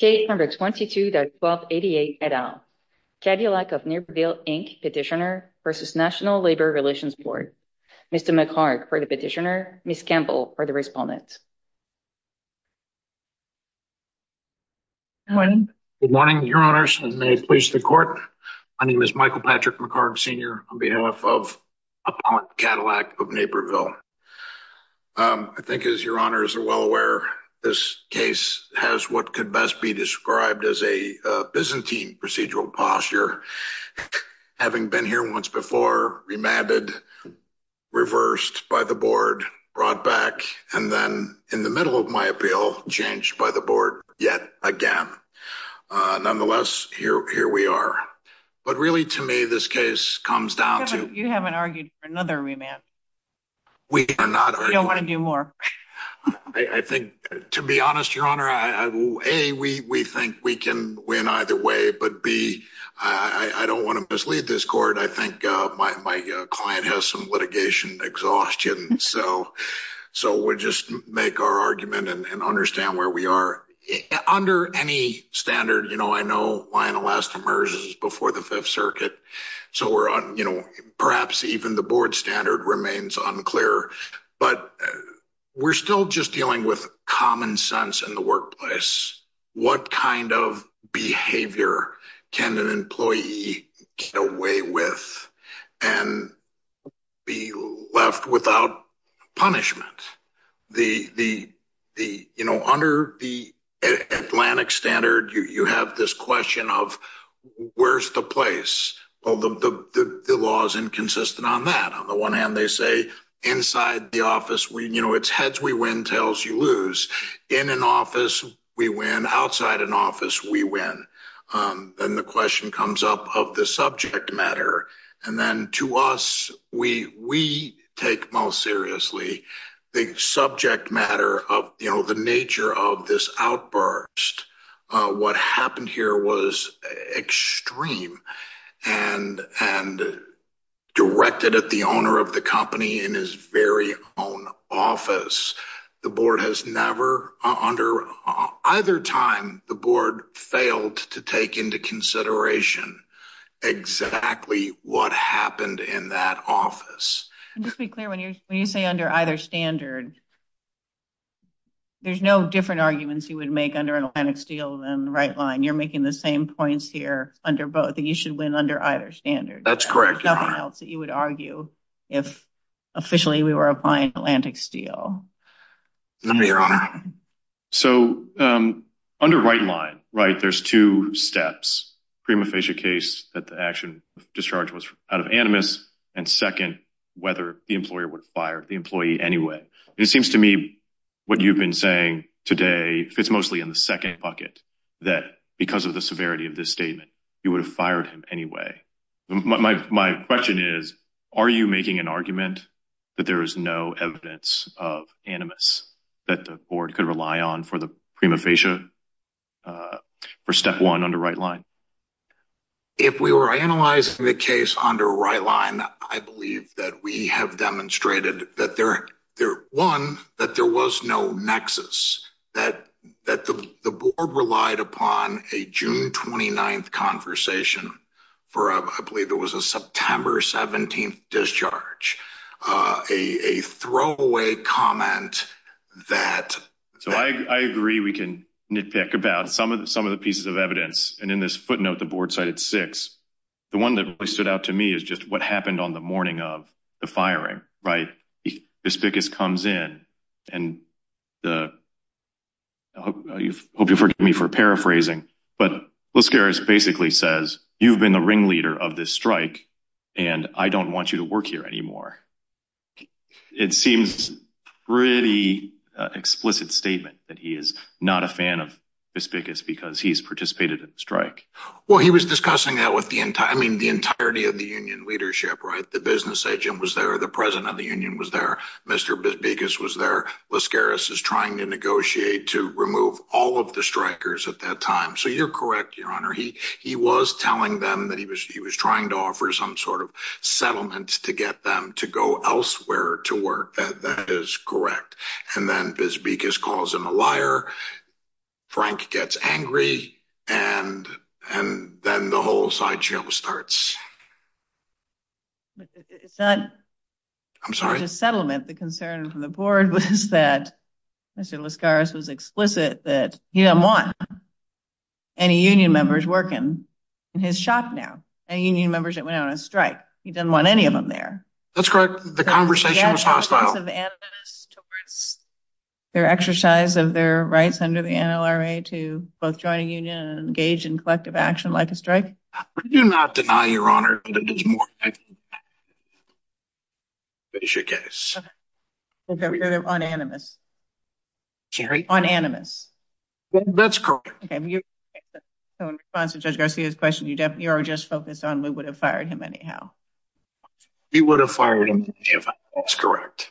K822.1288 et al. Cadillac of Naperville, Inc. Petitioner v. National Labor Relations Board. Mr. McHarg for the petitioner, Ms. Campbell for the respondent. Good morning, your honors, and may it please the court. My name is Michael Patrick McHarg, Sr. on behalf of Appellant Cadillac of Naperville. I think as your honors are well aware, this case has what could best be described as a Byzantine procedural posture. Having been here once before, remanded, reversed by the board, brought back, and then in the middle of my appeal, changed by the board yet again. Nonetheless, here we are. But really, to me, this case comes down to- You haven't argued for another remand. We are not- You don't want to do more. I think, to be honest, your honor, A, we think we can win either way, but B, I don't want to mislead this court. I think my client has some litigation exhaustion, so we'll just make our argument and understand where we are. Under any standard, I know Lionel Astemer's is before the Fifth Circuit, so perhaps even the board standard remains unclear, but we're still just dealing with common sense in the workplace. What kind of behavior can an employee get away with and be left without punishment? Under the Atlantic standard, you have this question of where's the place? The law is inconsistent on that. On the one hand, they say inside the office, it's heads we win, tails you lose. In an office, we win. Outside an office, we win. Then the question comes up of the subject matter. Then to us, we take most happened here was extreme and directed at the owner of the company in his very own office. The board has never, under either time, the board failed to take into consideration exactly what happened in that office. Just to be clear, when you say under either standard, there's no different arguments you would make under an Atlantic Steel than the right line. You're making the same points here under both. You should win under either standard. That's correct. There's nothing else that you would argue if officially we were applying Atlantic Steel. So, under right line, there's two steps. Prima facie case that the action discharge was out of me what you've been saying today fits mostly in the second bucket that because of the severity of this statement, you would have fired him anyway. My question is, are you making an argument that there is no evidence of animus that the board could rely on for the prima facie for step one under right line? If we were analyzing the case under right line, I believe that we have demonstrated that there was no nexus, that the board relied upon a June 29th conversation for I believe it was a September 17th discharge, a throwaway comment that... So, I agree we can nitpick about some of the pieces of evidence. And in this footnote, the board cited six. The one that really stood out to me is just what happened on the morning of firing, right? Vespicus comes in and the... I hope you forgive me for paraphrasing, but Liscaris basically says, you've been the ringleader of this strike and I don't want you to work here anymore. It seems pretty explicit statement that he is not a fan of Vespicus because he's participated in the strike. Well, he was discussing that with the entire... I mean, the entirety of the union leadership, right? The business agent was there. The president of the union was there. Mr. Vespicus was there. Liscaris is trying to negotiate to remove all of the strikers at that time. So, you're correct, your honor. He was telling them that he was trying to offer some sort of settlement to get them to go elsewhere to work. That is correct. And then Vespicus calls him a I'm sorry. It's not a settlement. The concern from the board was that Mr. Liscaris was explicit that he doesn't want any union members working in his shop now, any union members that went on a strike. He doesn't want any of them there. That's correct. The conversation was hostile. Their exercise of their rights under the NLRA to both join a union and engage in collective action like a strike? I do not deny, your honor, that there's more. Fascia case. Unanimous. Unanimous. That's correct. In response to Judge Garcia's question, you are just focused on we would have fired him anyhow. We would have fired him. That's correct.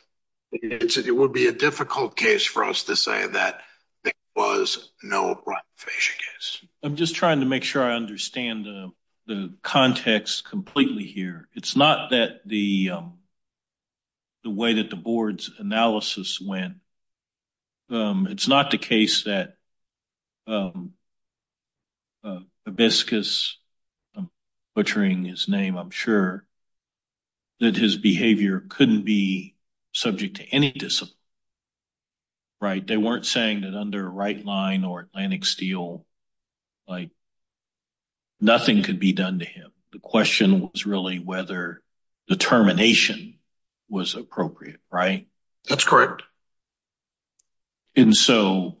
It would be a difficult case for us to say that there was no right fascia case. I'm just trying to make sure I understand the context completely here. It's not that the way that the board's analysis went. It's not the case that Vespicus, I'm butchering his name, I'm sure, that his behavior couldn't be subject to any discipline, right? They weren't saying that a right line or Atlantic Steel, like nothing could be done to him. The question was really whether the termination was appropriate, right? That's correct. And so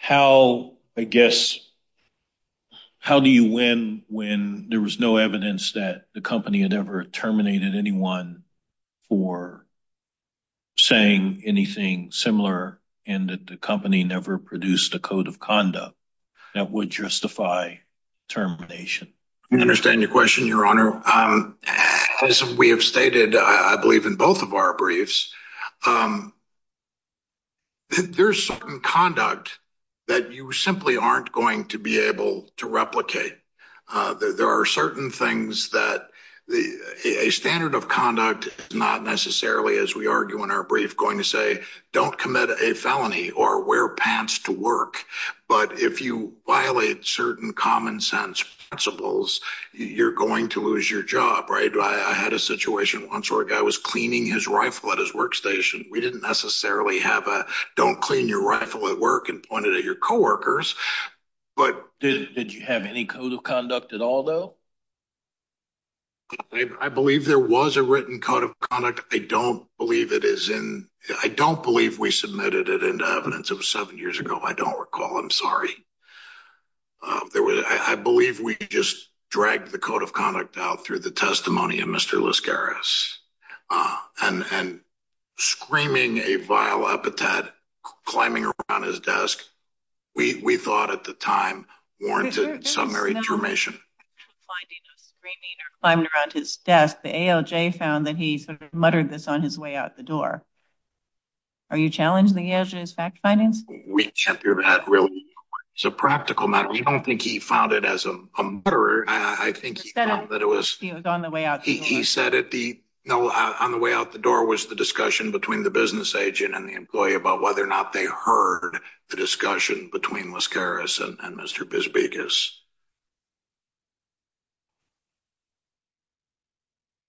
how, I guess, how do you win when there was no evidence that the company had ever terminated anyone for saying anything similar and that the company never produced a code of conduct that would justify termination? I understand your question, your honor. As we have stated, I believe in both of our briefs, there's certain conduct that you simply aren't going to be able to replicate. There are certain things that a standard of conduct is not necessarily, as we argue in our brief, going to say, don't commit a felony or wear pants to work. But if you violate certain common sense principles, you're going to lose your job, right? I had a situation once where a guy was cleaning his rifle at his workstation. We didn't necessarily have a clean your rifle at work and pointed at your coworkers. But did you have any code of conduct at all though? I believe there was a written code of conduct. I don't believe it is in, I don't believe we submitted it into evidence. It was seven years ago. I don't recall. I'm sorry. I believe we just dragged the code of conduct out through the testimony of Mr. Liscaris and screaming a vile epithet, climbing around his desk, we thought at the time, warranted summary termination. The ALJ found that he sort of muttered this on his way out the door. Are you challenging the ALJ's fact findings? We can't do that really. It's a practical matter. I don't think he found it as a mutterer. I think that it was on the way out. He said at the, no, on the way out the door was the discussion between the business agent and the employee about whether or not they heard the discussion between Liscaris and Mr. Bisbigas.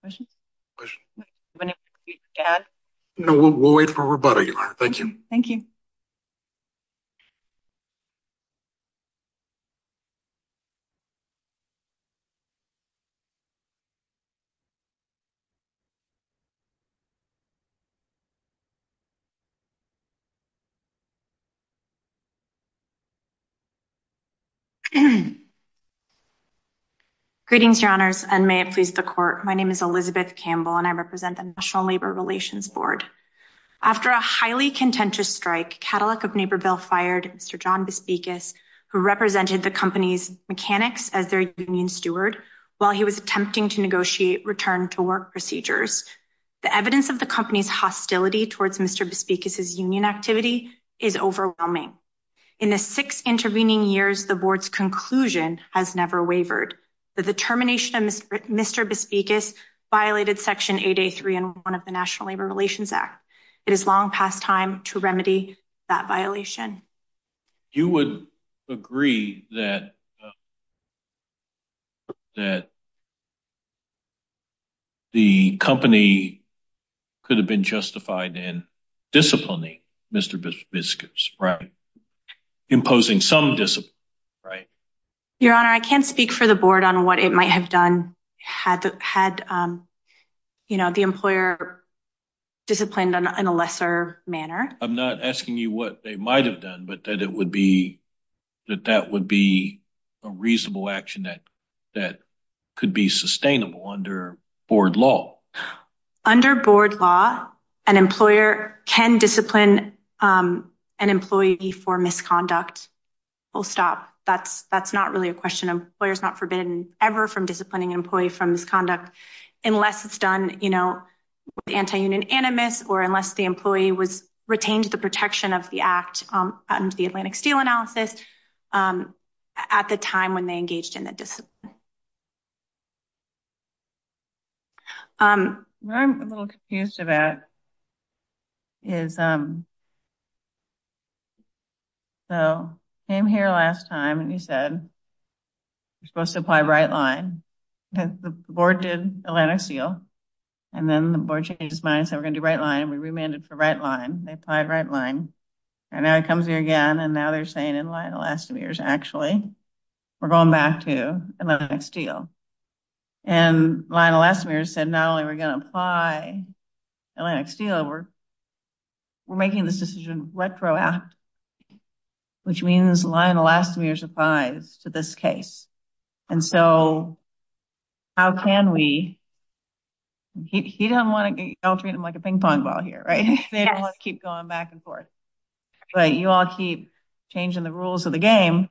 Questions? No, we'll wait for rebuttal. Thank you. Thank you. Thank you. Greetings, your honors, and may it please the court. My name is Elizabeth Campbell, and I represent the National Labor Relations Board. After a highly contentious strike, Cadillac of Naperville fired Mr. John Bisbigas, who represented the company's mechanics as their union steward while he was attempting to negotiate return-to-work procedures. The evidence of the company's hostility towards Mr. Bisbigas' union activity is overwhelming. In the six intervening years, the board's conclusion has never wavered. The termination of Mr. Bisbigas violated Section 8A3 and 1 of the National Labor Relations Act. It is long past time to remedy that violation. You would agree that the company could have been justified in disciplining Mr. Bisbigas, right? Imposing some discipline, right? Your honor, I can't speak for the board on what it might have done had the employer disciplined in a lesser manner. I'm not asking you what they might have done, but that would be a reasonable action that could be sustainable under board law. Under board law, an employer can discipline an employee for misconduct. Full stop. That's not really a question. An employer is not forbidden ever from disciplining an employee for misconduct unless it's done with anti-union animus or unless the employee was retained to the protection of the act under the Atlantic Steel analysis at the time when they engaged in the discipline. What I'm a little confused about is, so I came here last time and you said we're supposed to apply right line. The board did Atlantic Steel and then the board changed its mind and said we're going to do right line. We remanded for right line. They applied right line and now it comes here again and now they're saying line elastomers actually. We're going back to Atlantic Steel and line elastomers said not only we're going to apply Atlantic Steel, we're making this decision retroactive, which means line elastomers applies to this case. And so how can we, he doesn't want to, I'll treat him like a game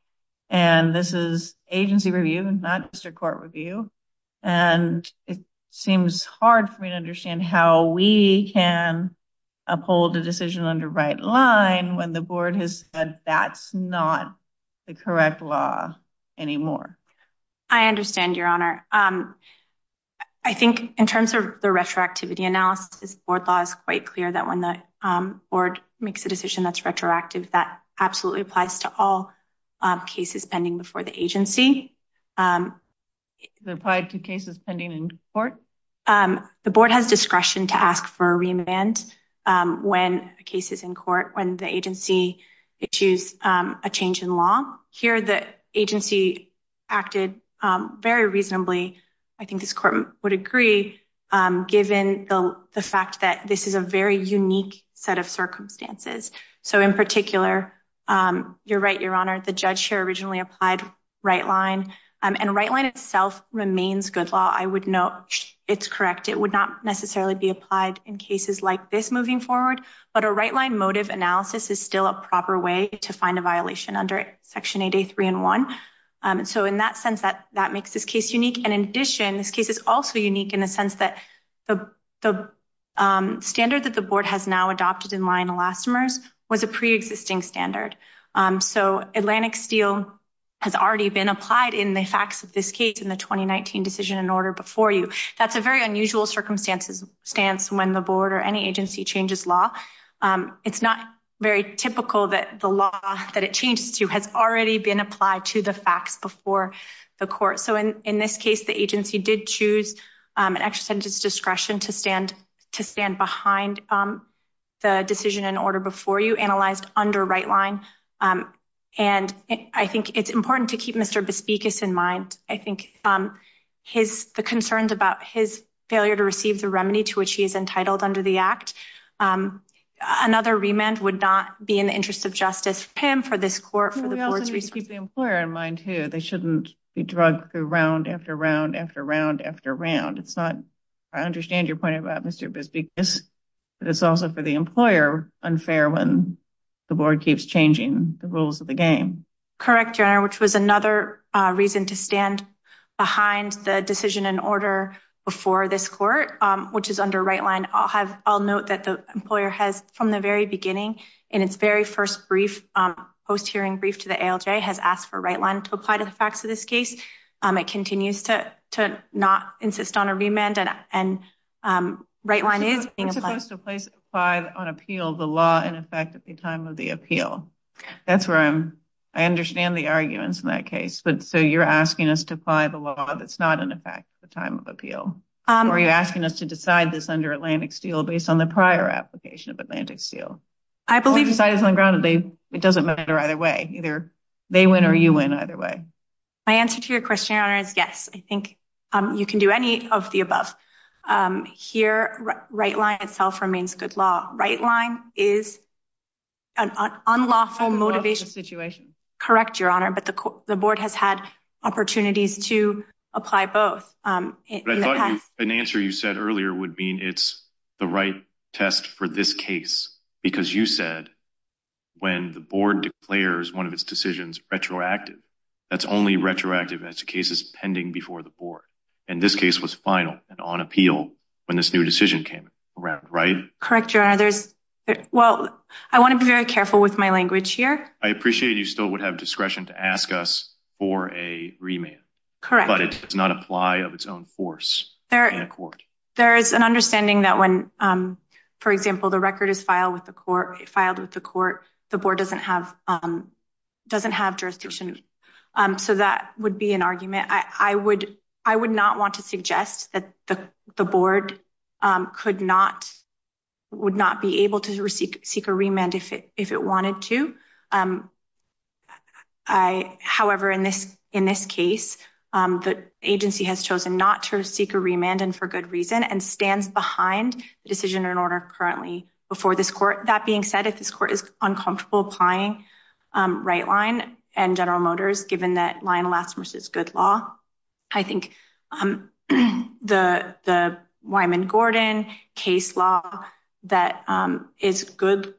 and this is agency review not just a court review and it seems hard for me to understand how we can uphold a decision under right line when the board has said that's not the correct law anymore. I understand your honor. I think in terms of the retroactivity analysis, the board law is quite clear that when the board makes a decision that's retroactive that absolutely applies to cases pending before the agency. Applied to cases pending in court? The board has discretion to ask for a remand when a case is in court, when the agency issues a change in law. Here the agency acted very reasonably. I think this court would agree given the fact that this is a very unique set of circumstances. So in particular, you're right, your honor, the judge here originally applied right line and right line itself remains good law. I would note it's correct. It would not necessarily be applied in cases like this moving forward, but a right line motive analysis is still a proper way to find a violation under section 8A3 and 1. So in that sense, that makes this case unique. And in addition, this case is also unique in the sense that the standard that the board has now adopted in line elastomers was a preexisting standard. So Atlantic Steel has already been applied in the facts of this case in the 2019 decision and order before you. That's a very unusual circumstance when the board or any agency changes law. It's not very typical that the law that it changes to has already been applied to the facts before the court. So in this case, the agency did choose an extra sentence discretion to stand behind the decision and order before you analyzed under right line. And I think it's important to keep Mr. Bespikis in mind. I think the concerns about his failure to receive the remedy to which he is entitled under the act, another remand would not be in interest of justice for him, for this court, for the board's resources. We also need to keep the employer in mind too. They shouldn't be drugged round after round after round after round. It's not, I understand your point about Mr. Bespikis, but it's also for the employer unfair when the board keeps changing the rules of the game. Correct, your honor, which was another reason to stand behind the decision and order before this court, which is under right line. I'll have, I'll note that the employer has from the very beginning in its very first brief post-hearing brief to the ALJ has asked for right line to apply to the facts of this case. It continues to not insist on a remand and right line is being applied. It's supposed to apply on appeal the law in effect at the time of the appeal. That's where I'm, I understand the arguments in that case, but so you're asking us to apply the law that's not in effect at the time of appeal. Or you're asking us to decide this under Atlantic Steel. I believe the side is on the ground and they, it doesn't matter either way, either they win or you win either way. My answer to your question, your honor, is yes. I think you can do any of the above. Here, right line itself remains good law. Right line is an unlawful motivation situation. Correct, your honor, but the board has had opportunities to apply both. An answer you said earlier would mean it's the right test for this case. Because you said when the board declares one of its decisions retroactive, that's only retroactive as cases pending before the board. And this case was final and on appeal when this new decision came around, right? Correct, your honor. There's, well, I want to be very careful with my language here. I appreciate you still would have discretion to ask us for a remand. Correct. But it does not apply of its own force in a court. There is an understanding that when, for example, the record is filed with the court, the board doesn't have jurisdiction. So that would be an argument. I would not want to suggest that the board could not, would not be able to seek a remand if it wanted to. However, in this case, the agency has chosen not to seek a remand and for good reason and stands behind the decision in order currently before this court. That being said, if this court is uncomfortable applying right line and General Motors, given that line last versus good law, I think the Wyman Gordon case law that is good,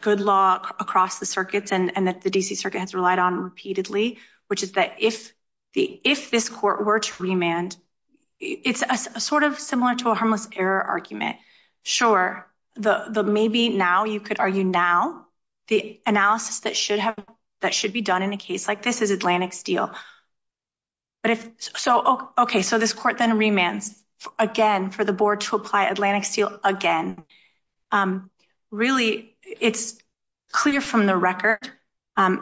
good law across the circuits and that the DC circuit has relied on repeatedly, which is that if the, if this court were to remand, it's a sort of similar to a harmless error argument. Sure. The, the, maybe now you could argue now the analysis that should have, that should be done in a case like this is Atlantic steel, but if so, okay. So this court then remands again for the board to apply Atlantic steel again, really it's clear from the record. And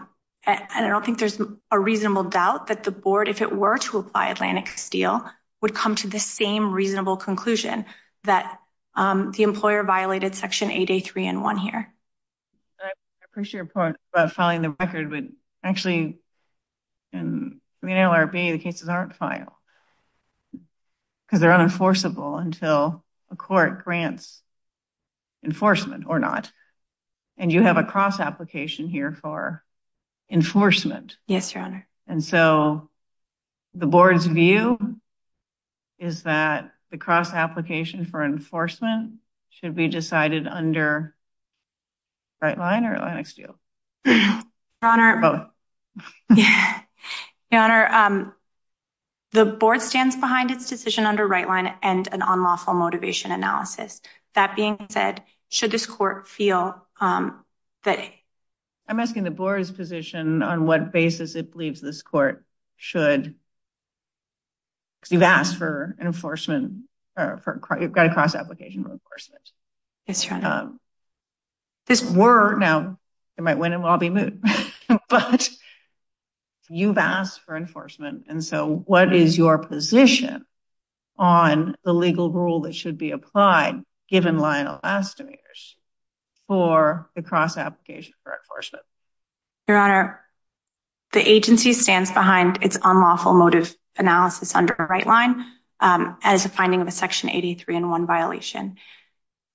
I don't think there's a reasonable doubt that the board, if it were to apply Atlantic steel would come to the same reasonable conclusion that the employer violated section eight, a three and one here. I appreciate your point about filing the record, but actually in the NLRB, the cases aren't final because they're unenforceable until a court grants enforcement or not. And you have a cross application here for enforcement. Yes, your the board's view is that the cross application for enforcement should be decided under right line or next deal. Yeah. The board stands behind its decision under right line and an unlawful motivation analysis. That being said, should this court feel that I'm asking the board's position on what basis it should, because you've asked for enforcement or you've got a cross application for enforcement. This were now, it might win and we'll all be moot, but you've asked for enforcement. And so what is your position on the legal rule that should be applied given Lionel Astemer's for the cross application for enforcement? Your honor, the agency stands behind its unlawful motive analysis under a right line as a finding of a section 83 and one violation.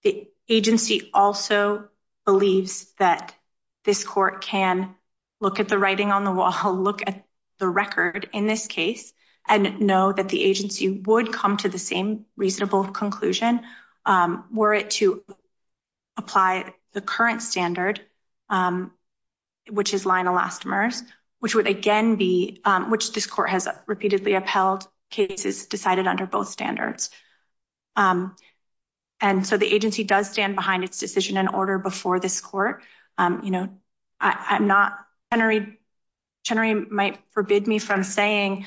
The agency also believes that this court can look at the writing on the wall, look at the record in this case and know that the agency would come to the same reasonable conclusion. Were it to apply the current standard, which is Lionel Astemer's, which would again be, which this court has repeatedly upheld cases decided under both standards. And so the agency does stand behind its decision in order before this court, you know, I'm not Henry Chenery might forbid me from saying,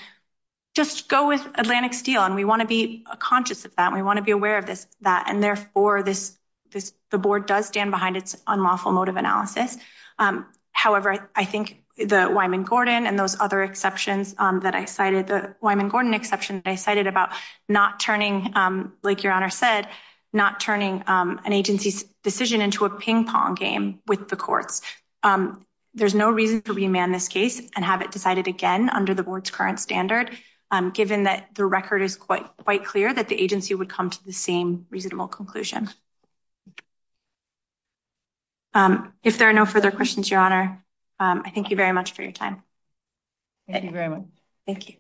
just go with Atlantic Steel. And we want to be conscious of that. We want to be aware of this, that, and therefore this, the board does stand behind its unlawful motive analysis. However, I think the Wyman Gordon and those other exceptions that I cited, the Wyman Gordon exception that I cited about not turning, like your honor said, not turning an agency's decision into a ping pong game with the courts. There's no reason to remand this case and have it decided again under the board's current standard, given that the record is quite, quite clear that the agency would come to the same reasonable conclusion. If there are no further questions, your honor, I thank you very much for your time. Thank you very much. Thank you.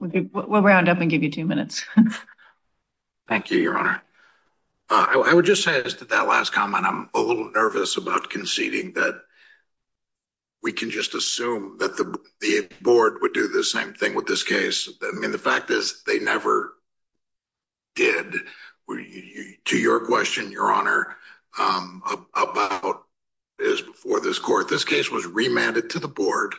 We'll round up and give you two minutes. Thank you, your honor. I would just say as to that last comment, I'm a little nervous about conceding that we can just assume that the board would do the same thing with this case. I mean, the fact is they never did. To your question, your honor, about is before this court, this case was remanded to the board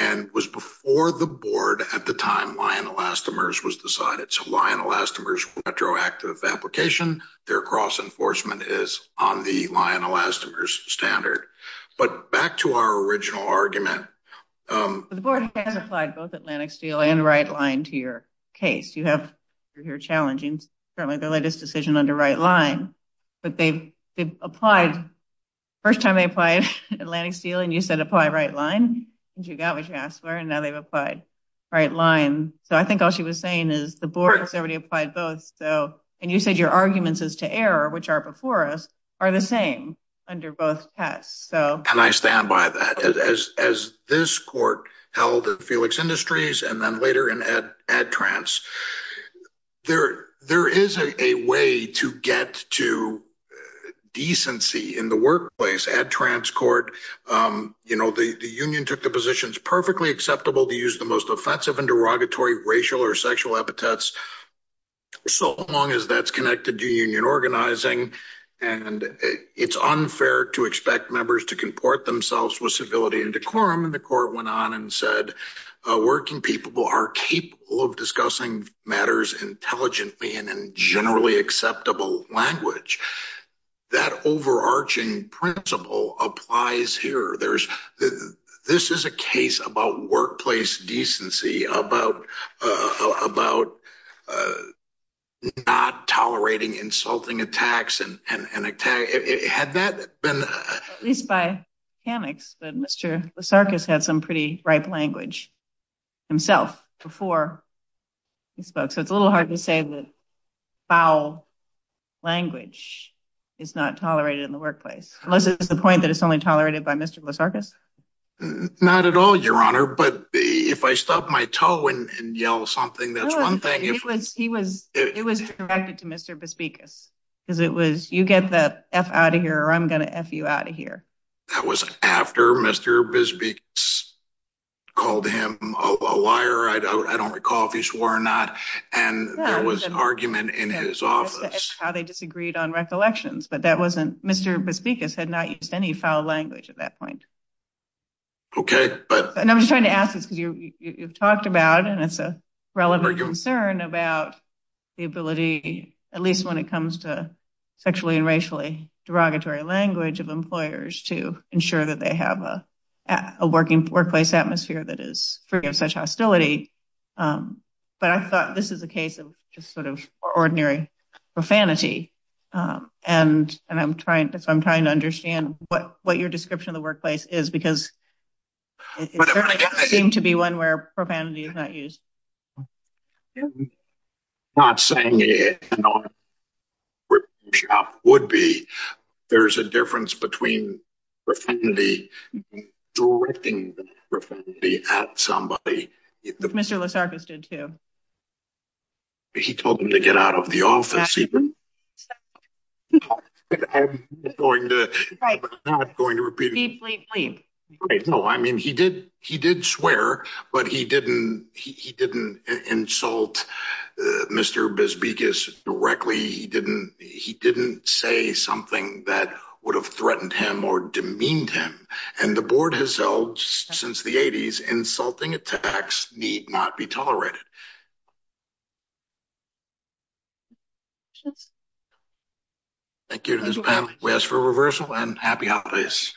and was before the board at the time Lyon Elastomers was decided. So Lyon Elastomers retroactive application, their cross enforcement is on the Lyon Elastomers standard. But back to our original argument. The board has applied both Atlantic Steel and RightLine to your case. You have your challenging, certainly the latest decision under RightLine, but they've applied. First time they applied Atlantic Steel and you said apply RightLine and you got what you asked for and now they've applied RightLine. So I think all she was saying is the board has already applied both. So, and you said your arguments as to error, which are before us, are the same under both tests. Can I stand by that? As this court held at Felix Industries and then later in Ed Trans, there is a way to get to decency in the workplace at Trans Court. The union took the positions perfectly acceptable to use the most offensive and derogatory racial or sexual epithets so long as that's connected to union organizing and it's unfair to expect members to comport themselves with civility and decorum and the court went on and said working people are capable of discussing matters intelligently and in generally acceptable language. That overarching principle applies here. This is a case about workplace decency, about not tolerating insulting attacks. At least by mechanics, but Mr. Lasarkas had some pretty ripe language himself before he spoke, so it's a little hard to say that foul language is not tolerated in the workplace. Unless it's that it's only tolerated by Mr. Lasarkas? Not at all, Your Honor, but if I stub my toe and yell something, that's one thing. It was directed to Mr. Bespikis because it was you get the F out of here or I'm going to F you out of here. That was after Mr. Bespikis called him a liar. I don't recall if he swore or not and there was an argument in his office. That's how they disagreed on recollections, but Mr. Bespikis had not used any foul language at that point. And I'm just trying to ask this because you've talked about and it's a relevant concern about the ability, at least when it comes to sexually and racially derogatory language of employers, to ensure that they have a workplace atmosphere that is free of such hostility. But I thought this is a case of just sort of ordinary profanity and I'm trying to understand what your description of the workplace is because it doesn't seem to be one where profanity is not used. Not saying it would be. There's a difference between profanity, directing profanity at somebody. He told him to get out of the office. He did swear, but he didn't insult Mr. Bespikis directly. He didn't say something that would have threatened him or demeaned him. And the board has since the 80s, insulting attacks need not be tolerated. Thank you, Ms. Pam. We ask for a reversal and happy holidays.